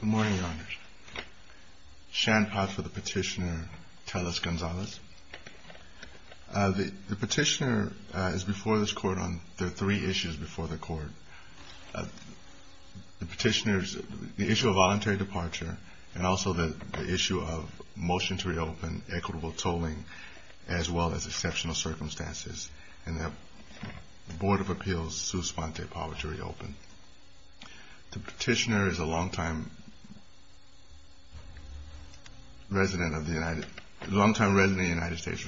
Good morning, Your Honor. Sean Potts for the Petitioner, Telez-Gonzalez. The Petitioner is before this Court on three issues before the Court. The Petitioner's issue of voluntary departure and also the issue of motion to reopen equitable tolling as well as exceptional circumstances and the Board of Appeals, Suspente, power to reopen. The Petitioner is a long-time resident of the United States.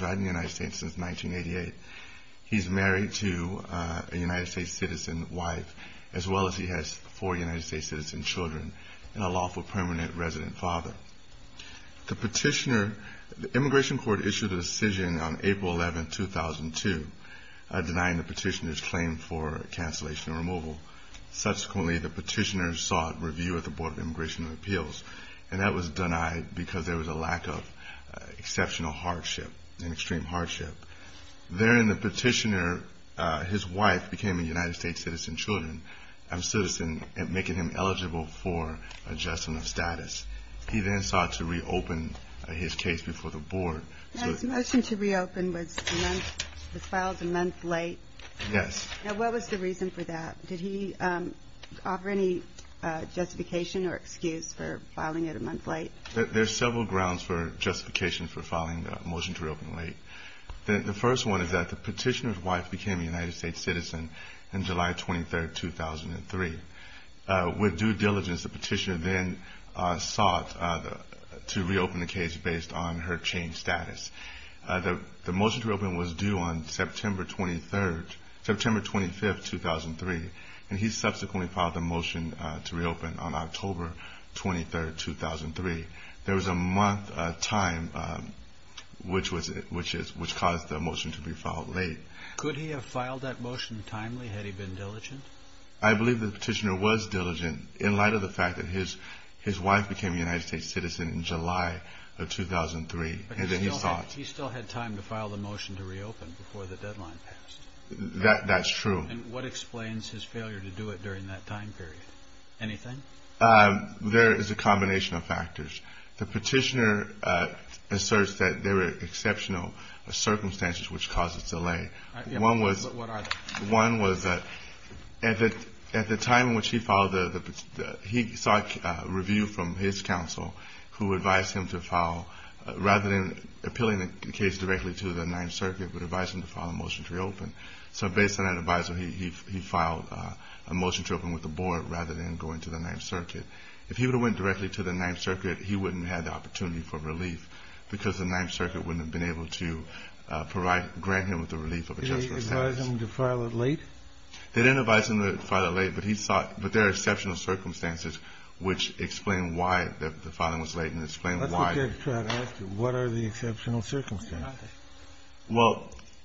He's married to a United States citizen wife as well as he has four United States citizen children and a lawful permanent resident father. The Petitioner, the Immigration Court issued a decision on April 11, 2002 denying the Petitioner's claim for cancellation and removal. Subsequently, the Petitioner sought review at the Board of Immigration and Appeals and that was denied because there was a lack of exceptional hardship and extreme hardship. Therein, the Petitioner, his wife, became a United States citizen and making him eligible for adjustment of status. He then sought to reopen his case before the Board. The motion to reopen was filed a month late. Yes. What was the reason for that? Did he offer any justification or excuse for filing it a month late? There are several grounds for justification for filing a motion to reopen late. The first one is that the Petitioner's wife became a United States citizen on July 23, 2003. With due diligence, the Petitioner then sought to reopen the case based on her changed status. The motion to reopen was due on September 25, 2003 and he subsequently filed the motion to reopen on October 23, 2003. There was a month time which caused the motion to be filed late. Could he have filed that motion timely had he been diligent? I believe the Petitioner was diligent in light of the fact that his wife became a United States citizen in July of 2003. He still had time to file the motion to reopen before the deadline passed. That's true. What explains his failure to do it during that time period? Anything? There is a combination of factors. The Petitioner asserts that there were exceptional circumstances which caused the delay. What are they? One was that at the time in which he filed, he sought review from his counsel who advised him to file, rather than appealing the case directly to the Ninth Circuit, would advise him to file a motion to reopen. So based on that advisory, he filed a motion to open with the board rather than going to the Ninth Circuit. If he would have went directly to the Ninth Circuit, he wouldn't have had the opportunity for relief because the Ninth Circuit wouldn't have been able to grant him with the relief of a justice sentence. They didn't advise him to file it late? They didn't advise him to file it late, but he sought – but there are exceptional circumstances which explain why the filing was late and explain why. Let's look at what are the exceptional circumstances. Well,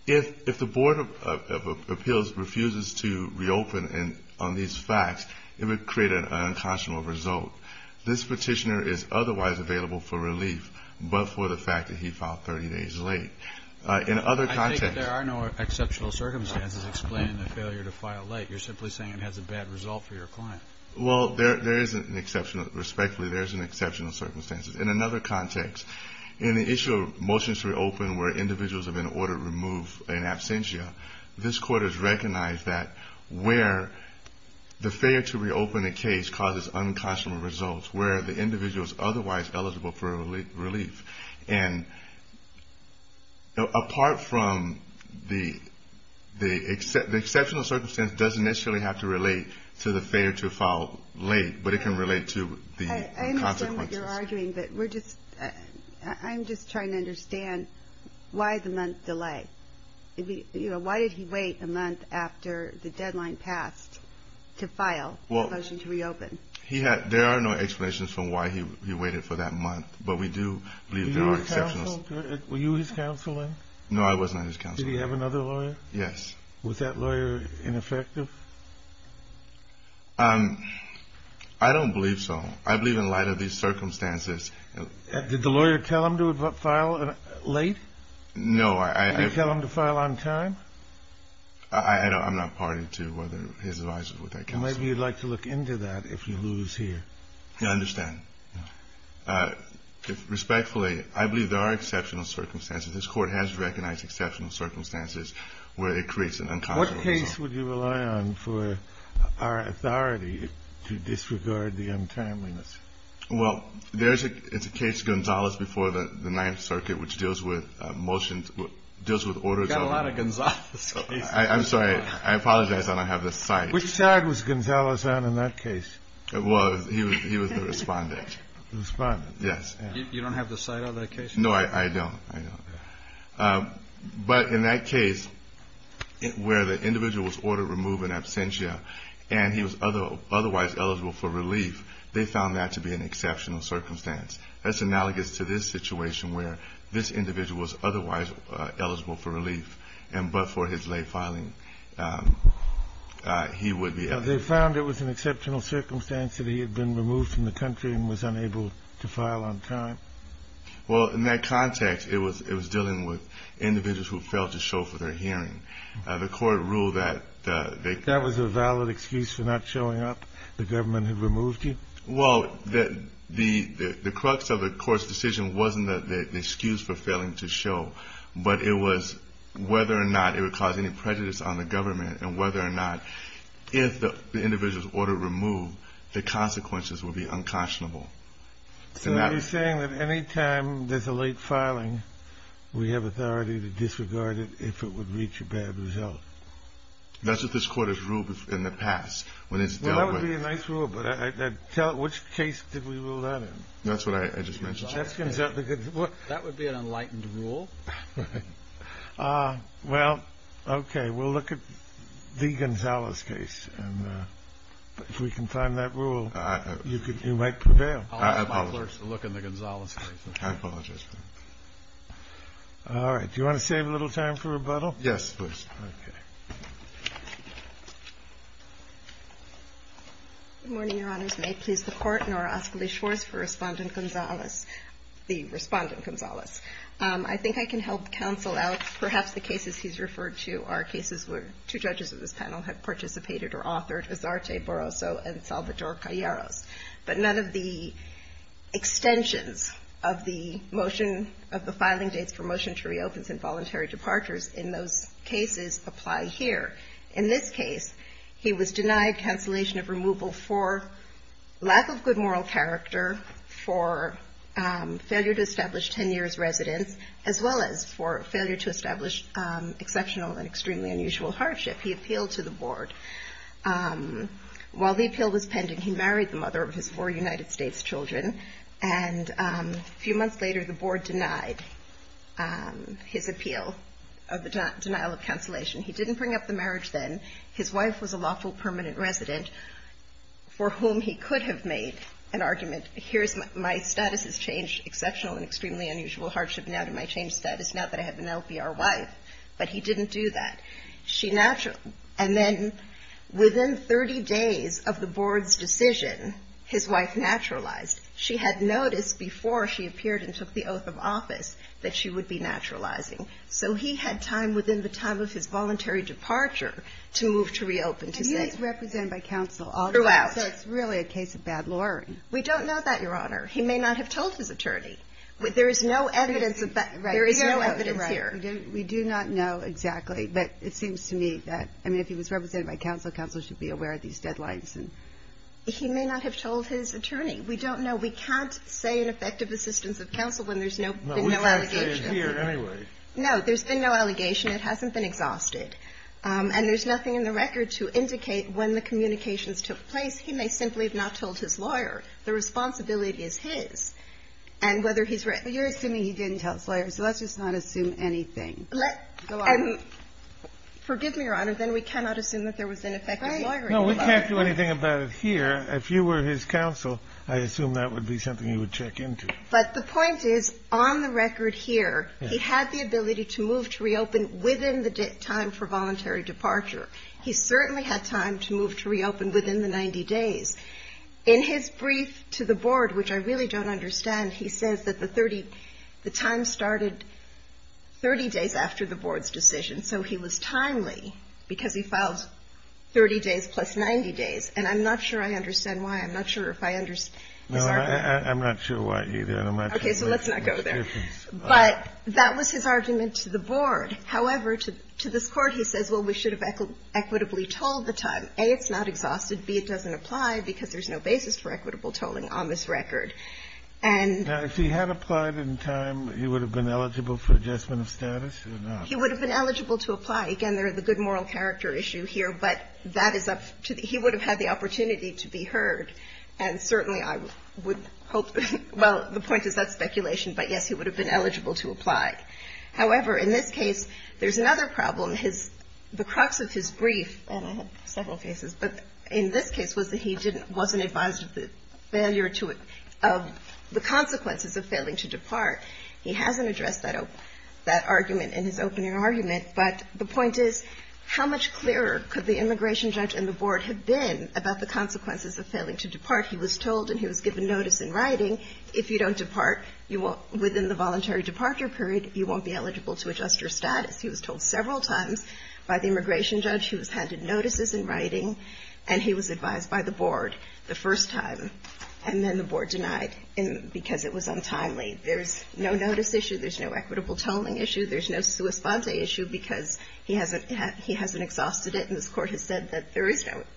if the Board of Appeals refuses to reopen on these facts, it would create an unconscionable result. This Petitioner is otherwise available for relief but for the fact that he filed 30 days late. In other context – I think there are no exceptional circumstances explaining the failure to file late. You're simply saying it has a bad result for your client. Well, there is an exceptional – respectfully, there is an exceptional circumstance. In another context, in the issue of motions to reopen where individuals have been ordered to remove in absentia, this Court has recognized that where the failure to reopen a case causes unconscionable results where the individual is otherwise eligible for relief. And apart from the – the exceptional circumstance doesn't necessarily have to relate to the failure to file late, but it can relate to the consequences. I understand what you're arguing, but we're just – I'm just trying to understand why the month delay. Why did he wait a month after the deadline passed to file a motion to reopen? He had – there are no explanations for why he waited for that month, but we do believe there are exceptional – Were you his counselor? No, I was not his counselor. Did he have another lawyer? Yes. Was that lawyer ineffective? I don't believe so. I believe in light of these circumstances. Did the lawyer tell him to file late? No, I – Did he tell him to file on time? I'm not party to whether his advisor was that counselor. Maybe you'd like to look into that if you lose here. I understand. Respectfully, I believe there are exceptional circumstances. This Court has recognized exceptional circumstances where it creates an unconscionable result. What case would you rely on for our authority to disregard the untimeliness? Well, there's a case, Gonzalez before the Ninth Circuit, which deals with motions – deals with orders of – You've got a lot of Gonzalez cases. I'm sorry. I apologize. I don't have the site. Which side was Gonzalez on in that case? Well, he was the respondent. The respondent? Yes. You don't have the site on that case? No, I don't. I don't. But in that case where the individual was ordered removed in absentia and he was otherwise eligible for relief, they found that to be an exceptional circumstance. That's analogous to this situation where this individual was otherwise eligible for relief, but for his late filing he would be eligible. They found it was an exceptional circumstance that he had been removed from the country and was unable to file on time? Well, in that context, it was dealing with individuals who failed to show for their hearing. The court ruled that they – That was a valid excuse for not showing up? The government had removed you? Well, the crux of the court's decision wasn't the excuse for failing to show, but it was whether or not it would cause any prejudice on the government and whether or not if the individual was ordered removed, the consequences would be unconscionable. So you're saying that any time there's a late filing, we have authority to disregard it if it would reach a bad result? That's what this court has ruled in the past when it's dealt with. That would be a nice rule, but which case did we rule that in? That's what I just mentioned. That would be an enlightened rule. Well, okay. We'll look at the Gonzales case, and if we can find that rule, you might prevail. I apologize. I'll ask my clerks to look in the Gonzales case. I apologize. All right. Do you want to save a little time for rebuttal? Yes, please. Okay. Good morning, Your Honors. May it please the Court, nor ask of the Shores for Respondent Gonzales, the Respondent Gonzales. I think I can help counsel out perhaps the cases he's referred to are cases where two judges of this panel have participated or authored, Azarte Boroso and Salvador Calleros. But none of the extensions of the motion of the filing dates for motion to reopen and voluntary departures in those cases apply here. In this case, he was denied cancellation of removal for lack of good moral character, for failure to establish 10 years residence, as well as for failure to establish exceptional and extremely unusual hardship. He appealed to the Board. While the appeal was pending, he married the mother of his four United States children, and a few months later, the Board denied his appeal of the denial of cancellation. He didn't bring up the marriage then. His wife was a lawful permanent resident for whom he could have made an argument, here's my status as changed exceptional and extremely unusual hardship now to my changed status, now that I have an LPR wife. But he didn't do that. And then within 30 days of the Board's decision, his wife naturalized. She had noticed before she appeared and took the oath of office that she would be naturalizing. So he had time within the time of his voluntary departure to move to reopen. And he was represented by counsel all throughout. So it's really a case of bad law. We don't know that, Your Honor. He may not have told his attorney. There is no evidence of that. There is no evidence here. We do not know exactly. But it seems to me that, I mean, if he was represented by counsel, counsel should be aware of these deadlines. He may not have told his attorney. We don't know. We can't say an effective assistance of counsel when there's no allegation. It is here anyway. No. There's been no allegation. It hasn't been exhausted. And there's nothing in the record to indicate when the communications took place. He may simply have not told his lawyer. The responsibility is his. And whether he's right. You're assuming he didn't tell his lawyer. So let's just not assume anything. Let's go on. Forgive me, Your Honor. Then we cannot assume that there was an effective lawyer involved. No. We can't do anything about it here. If you were his counsel, I assume that would be something you would check into. But the point is, on the record here, he had the ability to move to reopen within the time for voluntary departure. He certainly had time to move to reopen within the 90 days. In his brief to the board, which I really don't understand, he says that the time started 30 days after the board's decision. So he was timely because he filed 30 days plus 90 days. And I'm not sure I understand why. I'm not sure if I understand. No, I'm not sure why either. Okay. So let's not go there. But that was his argument to the board. However, to this Court, he says, well, we should have equitably told the time. A, it's not exhausted. B, it doesn't apply because there's no basis for equitable tolling on this record. And he had applied in time. He would have been eligible for adjustment of status. He would have been eligible to apply. Again, there are the good moral character issue here. But that is up to the he would have had the opportunity to be heard. And certainly I would hope, well, the point is that's speculation. But, yes, he would have been eligible to apply. However, in this case, there's another problem. The crux of his brief, and I had several cases, but in this case was that he wasn't advised of the consequences of failing to depart. He hasn't addressed that argument in his opening argument. But the point is, how much clearer could the immigration judge and the board have been about the consequences of failing to depart? He was told and he was given notice in writing, if you don't depart within the voluntary departure period, you won't be eligible to adjust your status. He was told several times by the immigration judge. He was handed notices in writing. And he was advised by the board the first time. And then the board denied him because it was untimely. There's no notice issue. There's no equitable tolling issue. There's no sua sponte issue because he hasn't exhausted it. And this court has said that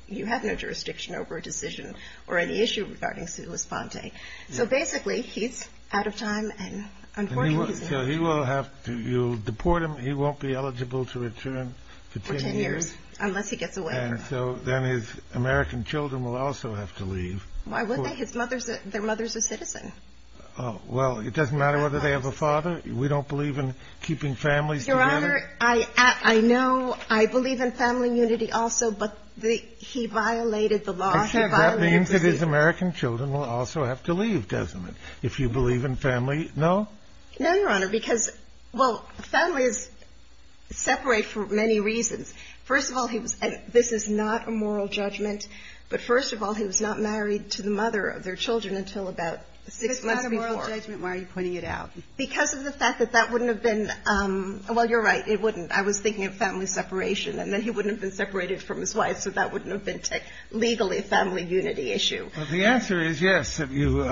you have no jurisdiction over a decision or any issue regarding sua sponte. So, basically, he's out of time. And, unfortunately, he's not. So you'll deport him. He won't be eligible to return for 10 years. For 10 years, unless he gets away. And so then his American children will also have to leave. Why would they? Their mother's a citizen. Well, it doesn't matter whether they have a father. We don't believe in keeping families together. Your Honor, I know. I believe in family unity also. But he violated the law. That means that his American children will also have to leave, doesn't it? If you believe in family. No? No, Your Honor. Because, well, families separate for many reasons. First of all, this is not a moral judgment. But, first of all, he was not married to the mother of their children until about six months before. It's not a moral judgment. Why are you pointing it out? Because of the fact that that wouldn't have been. Well, you're right. It wouldn't. I was thinking of family separation. And then he wouldn't have been separated from his wife. So that wouldn't have been legally a family unity issue. Well, the answer is yes, if you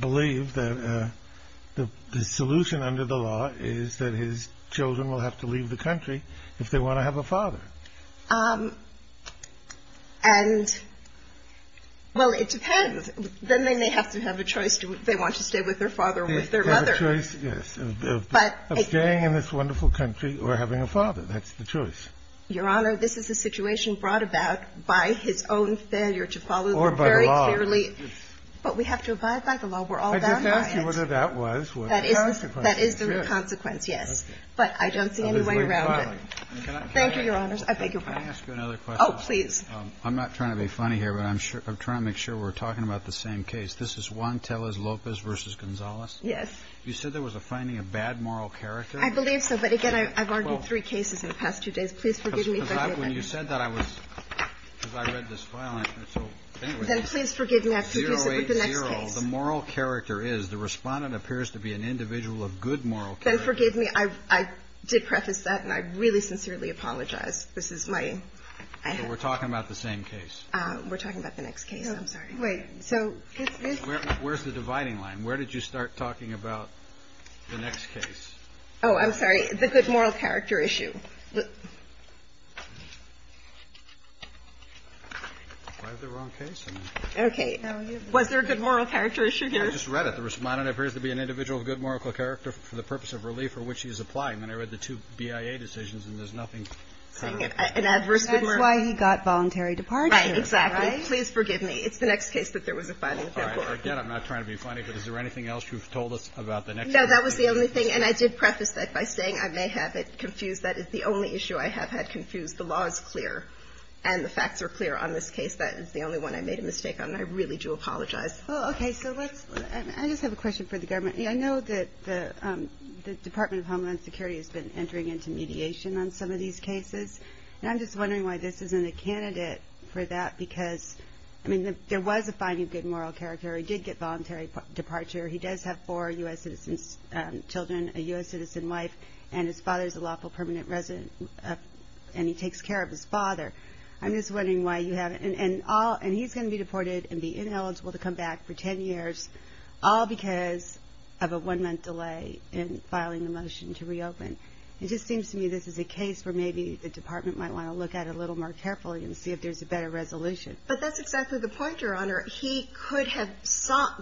believe that the solution under the law is that his children will have to leave the country if they want to have a father. And, well, it depends. Then they may have to have a choice if they want to stay with their father or with their mother. They have a choice, yes, of staying in this wonderful country or having a father. That's the choice. Your Honor, this is a situation brought about by his own failure to follow the very clearly. Or by the law. But we have to abide by the law. We're all bound by it. I just asked you whether that was the consequence. That is the consequence, yes. But I don't see any way around it. Thank you, Your Honors. I beg your pardon. Can I ask you another question? Oh, please. I'm not trying to be funny here, but I'm trying to make sure we're talking about the same case. This is Juan Tellez-Lopez v. Gonzalez. Yes. You said there was a finding of bad moral character. I believe so. But, again, I've argued three cases in the past two days. Please forgive me. When you said that, I was ‑‑ because I read this file. So, anyway. Then please forgive me. I have to revisit with the next case. 080, the moral character is the respondent appears to be an individual of good moral character. Then forgive me. I did preface that, and I really sincerely apologize. This is my ‑‑ But we're talking about the same case. We're talking about the next case. I'm sorry. Wait. So this is ‑‑ Where's the dividing line? Where did you start talking about the next case? Oh, I'm sorry. The good moral character issue. Why the wrong case? Okay. Was there a good moral character issue here? I just read it. The respondent appears to be an individual of good moral character for the purpose of relief for which he is applying. And I read the two BIA decisions, and there's nothing ‑‑ That's why he got voluntary departure. Right. Exactly. Please forgive me. It's the next case that there was a finding before. Again, I'm not trying to be funny, but is there anything else you've told us about the next case? No, that was the only thing. And I did preface that by saying I may have it confused. That is the only issue I have had confused. The law is clear, and the facts are clear on this case. That is the only one I made a mistake on, and I really do apologize. Okay. So let's ‑‑ I just have a question for the government. I know that the Department of Homeland Security has been entering into mediation on some of these cases, and I'm just wondering why this isn't a candidate for that, because, I mean, there was a finding of good moral character. He did get voluntary departure. He does have four U.S. citizen children, a U.S. citizen wife, and his father is a lawful permanent resident, and he takes care of his father. I'm just wondering why you haven't. And he's going to be deported and be ineligible to come back for 10 years, all because of a one‑month delay in filing the motion to reopen. It just seems to me this is a case where maybe the department might want to look at it a little more carefully and see if there's a better resolution. But that's exactly the point, Your Honor. He could have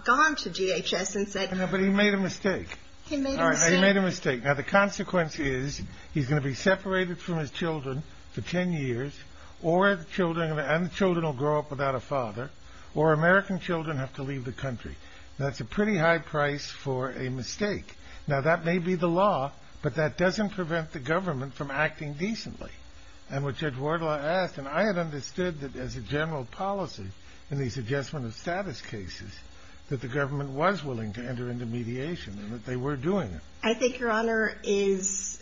gone to DHS and said ‑‑ But he made a mistake. He made a mistake. He made a mistake. Now, the consequence is he's going to be separated from his children for 10 years, and the children will grow up without a father, or American children have to leave the country. That's a pretty high price for a mistake. Now, that may be the law, but that doesn't prevent the government from acting decently. And what Judge Wardlaw asked, and I had understood that as a general policy, in these adjustment of status cases, that the government was willing to enter into mediation and that they were doing it. I think, Your Honor, is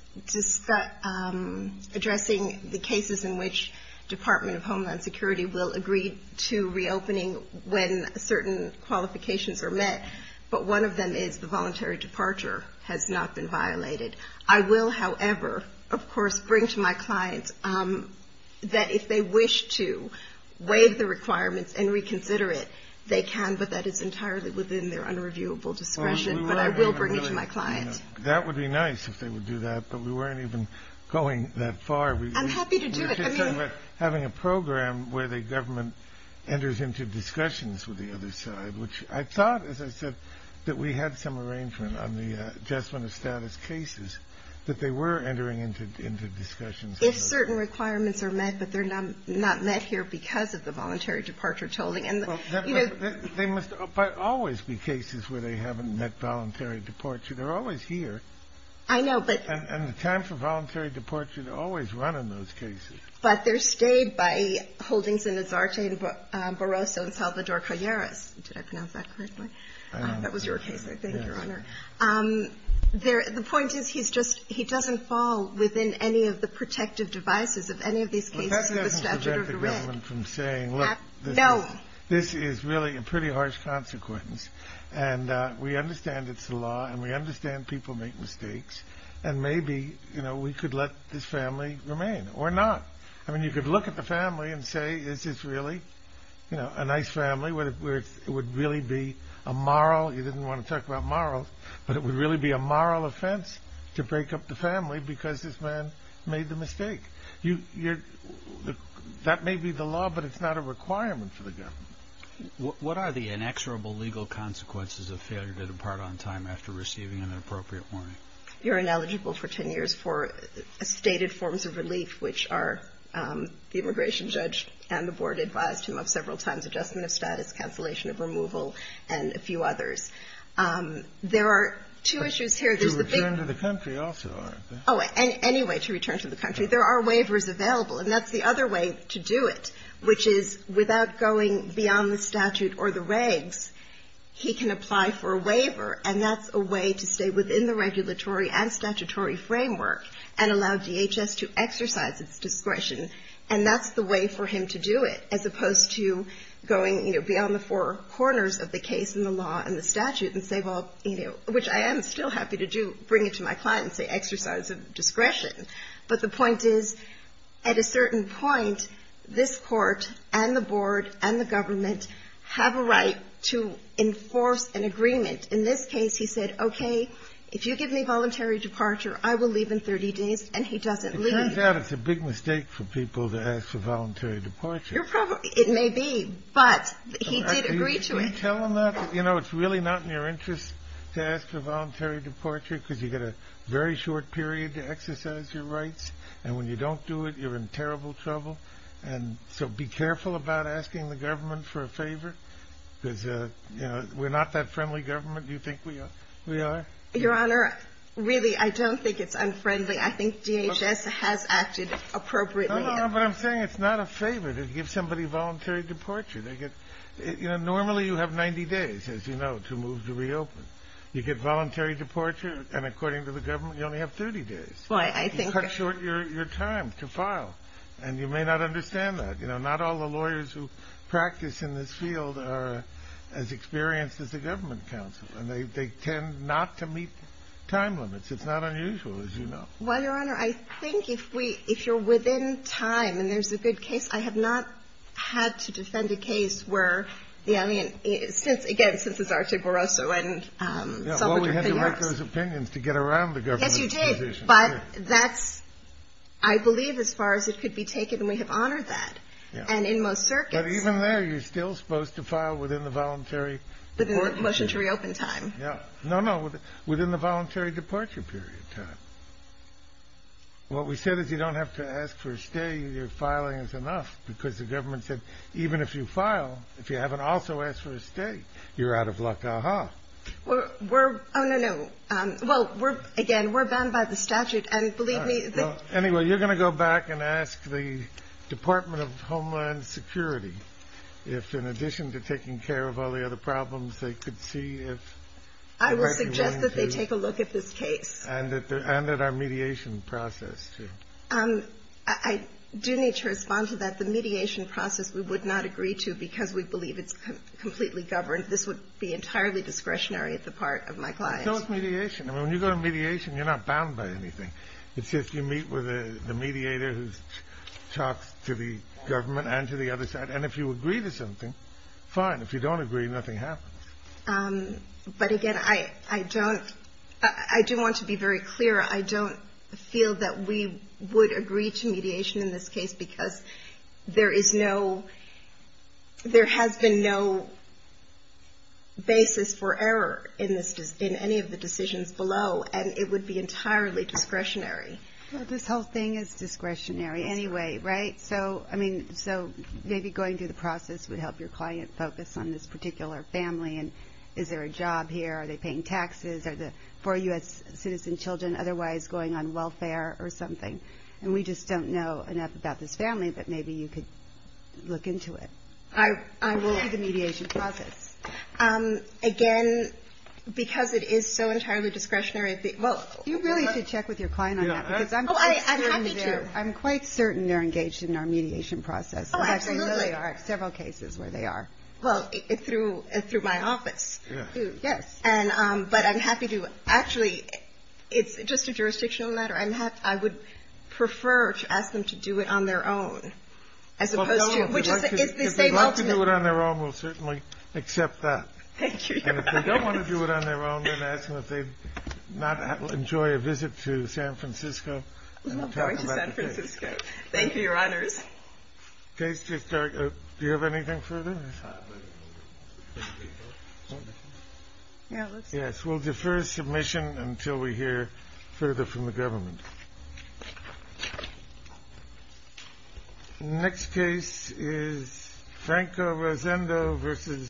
addressing the cases in which Department of Homeland Security will agree to reopening when certain qualifications are met, but one of them is the voluntary departure has not been violated. I will, however, of course, bring to my clients that if they wish to waive the requirements and reconsider it, they can, but that is entirely within their unreviewable discretion. But I will bring it to my clients. That would be nice if they would do that, but we weren't even going that far. I'm happy to do it. You're talking about having a program where the government enters into discussions with the other side, which I thought, as I said, that we had some arrangement on the adjustment of status cases, that they were entering into discussions. If certain requirements are met, but they're not met here because of the voluntary departure tolling. Well, there must always be cases where they haven't met voluntary departure. They're always here. I know, but. And the time for voluntary departure always run in those cases. But they're stayed by Holdings and Nazarte and Barroso and Salvador Calleras. Did I pronounce that correctly? That was your case, I think, Your Honor. The point is he doesn't fall within any of the protective devices of any of these cases. That doesn't prevent the government from saying, look. No. This is really a pretty harsh consequence, and we understand it's the law, and we understand people make mistakes, and maybe we could let this family remain or not. I mean, you could look at the family and say, is this really a nice family where it would really be a moral. You didn't want to talk about morals, but it would really be a moral offense to break up the family because this man made the mistake. That may be the law, but it's not a requirement for the government. What are the inexorable legal consequences of failure to depart on time after receiving an appropriate warning? You're ineligible for 10 years for stated forms of relief, which are the immigration judge and the board advised him of several times, adjustment of status, cancellation of removal, and a few others. There are two issues here. There's the big one. To return to the country also, aren't there? Oh, anyway, to return to the country. There are waivers available, and that's the other way to do it, which is without going beyond the statute or the regs, he can apply for a waiver, and that's a way to stay within the regulatory and statutory framework and allow DHS to exercise its discretion. And that's the way for him to do it, as opposed to going, you know, beyond the four corners of the case and the law and the statute and say, well, you know, which I am still happy to do, bring it to my client and say, exercise of discretion. But the point is, at a certain point, this court and the board and the government have a right to enforce an agreement. In this case, he said, okay, if you give me voluntary departure, I will leave in 30 days, and he doesn't leave. It turns out it's a big mistake for people to ask for voluntary departure. It may be, but he did agree to it. Can you tell them that? You know, it's really not in your interest to ask for voluntary departure because you get a very short period to exercise your rights, and when you don't do it, you're in terrible trouble. And so be careful about asking the government for a favor because, you know, we're not that friendly government. Do you think we are? Your Honor, really, I don't think it's unfriendly. I think DHS has acted appropriately. No, no, no, but I'm saying it's not a favor to give somebody voluntary departure. They get – you know, normally you have 90 days, as you know, to move to reopen. You get voluntary departure, and according to the government, you only have 30 days. Well, I think – You cut short your time to file, and you may not understand that. You know, not all the lawyers who practice in this field are as experienced as the government counsel, and they tend not to meet time limits. It's not unusual, as you know. Well, Your Honor, I think if we – if you're within time and there's a good case, I have not had to defend a case where the alien – since, again, since it's Archie Barroso and some of the payers. Yeah, well, we had to make those opinions to get around the government's position. Yes, you did, but that's – I believe as far as it could be taken, and we have honored that. And in most circuits – But even there, you're still supposed to file within the voluntary – Within the motion to reopen time. Yeah. No, no, within the voluntary departure period time. What we said is you don't have to ask for a stay. Your filing is enough because the government said even if you file, if you haven't also asked for a stay, you're out of luck. Uh-huh. We're – oh, no, no. Well, we're – again, we're bound by the statute, and believe me – Well, anyway, you're going to go back and ask the Department of Homeland Security if in addition to taking care of all the other problems, they could see if – I would suggest that they take a look at this case. And at our mediation process, too. I do need to respond to that. The mediation process we would not agree to because we believe it's completely governed. This would be entirely discretionary at the part of my client. So it's mediation. I mean, when you go to mediation, you're not bound by anything. It's just you meet with a mediator who talks to the government and to the other side. And if you agree to something, fine. If you don't agree, nothing happens. But, again, I don't – I do want to be very clear. I don't feel that we would agree to mediation in this case because there is no – there has been no basis for error in this – in any of the decisions below. And it would be entirely discretionary. Well, this whole thing is discretionary anyway, right? So, I mean, so maybe going through the process would help your client focus on this particular family and is there a job here, are they paying taxes, are the four U.S. citizen children otherwise going on welfare or something. And we just don't know enough about this family, but maybe you could look into it. I will do the mediation process. Again, because it is so entirely discretionary. Well, you really should check with your client on that. Oh, I'm happy to. I'm quite certain they're engaged in our mediation process. Oh, absolutely. There are several cases where they are. Well, through my office. Yes. But I'm happy to – actually, it's just a jurisdictional matter. I would prefer to ask them to do it on their own as opposed to – If they'd like to do it on their own, we'll certainly accept that. Thank you, Your Honors. And if they don't want to do it on their own, then ask them if they'd not enjoy a visit to San Francisco. I'm going to San Francisco. Thank you, Your Honors. Do you have anything further? Thank you. The next case is Franco Rosendo versus –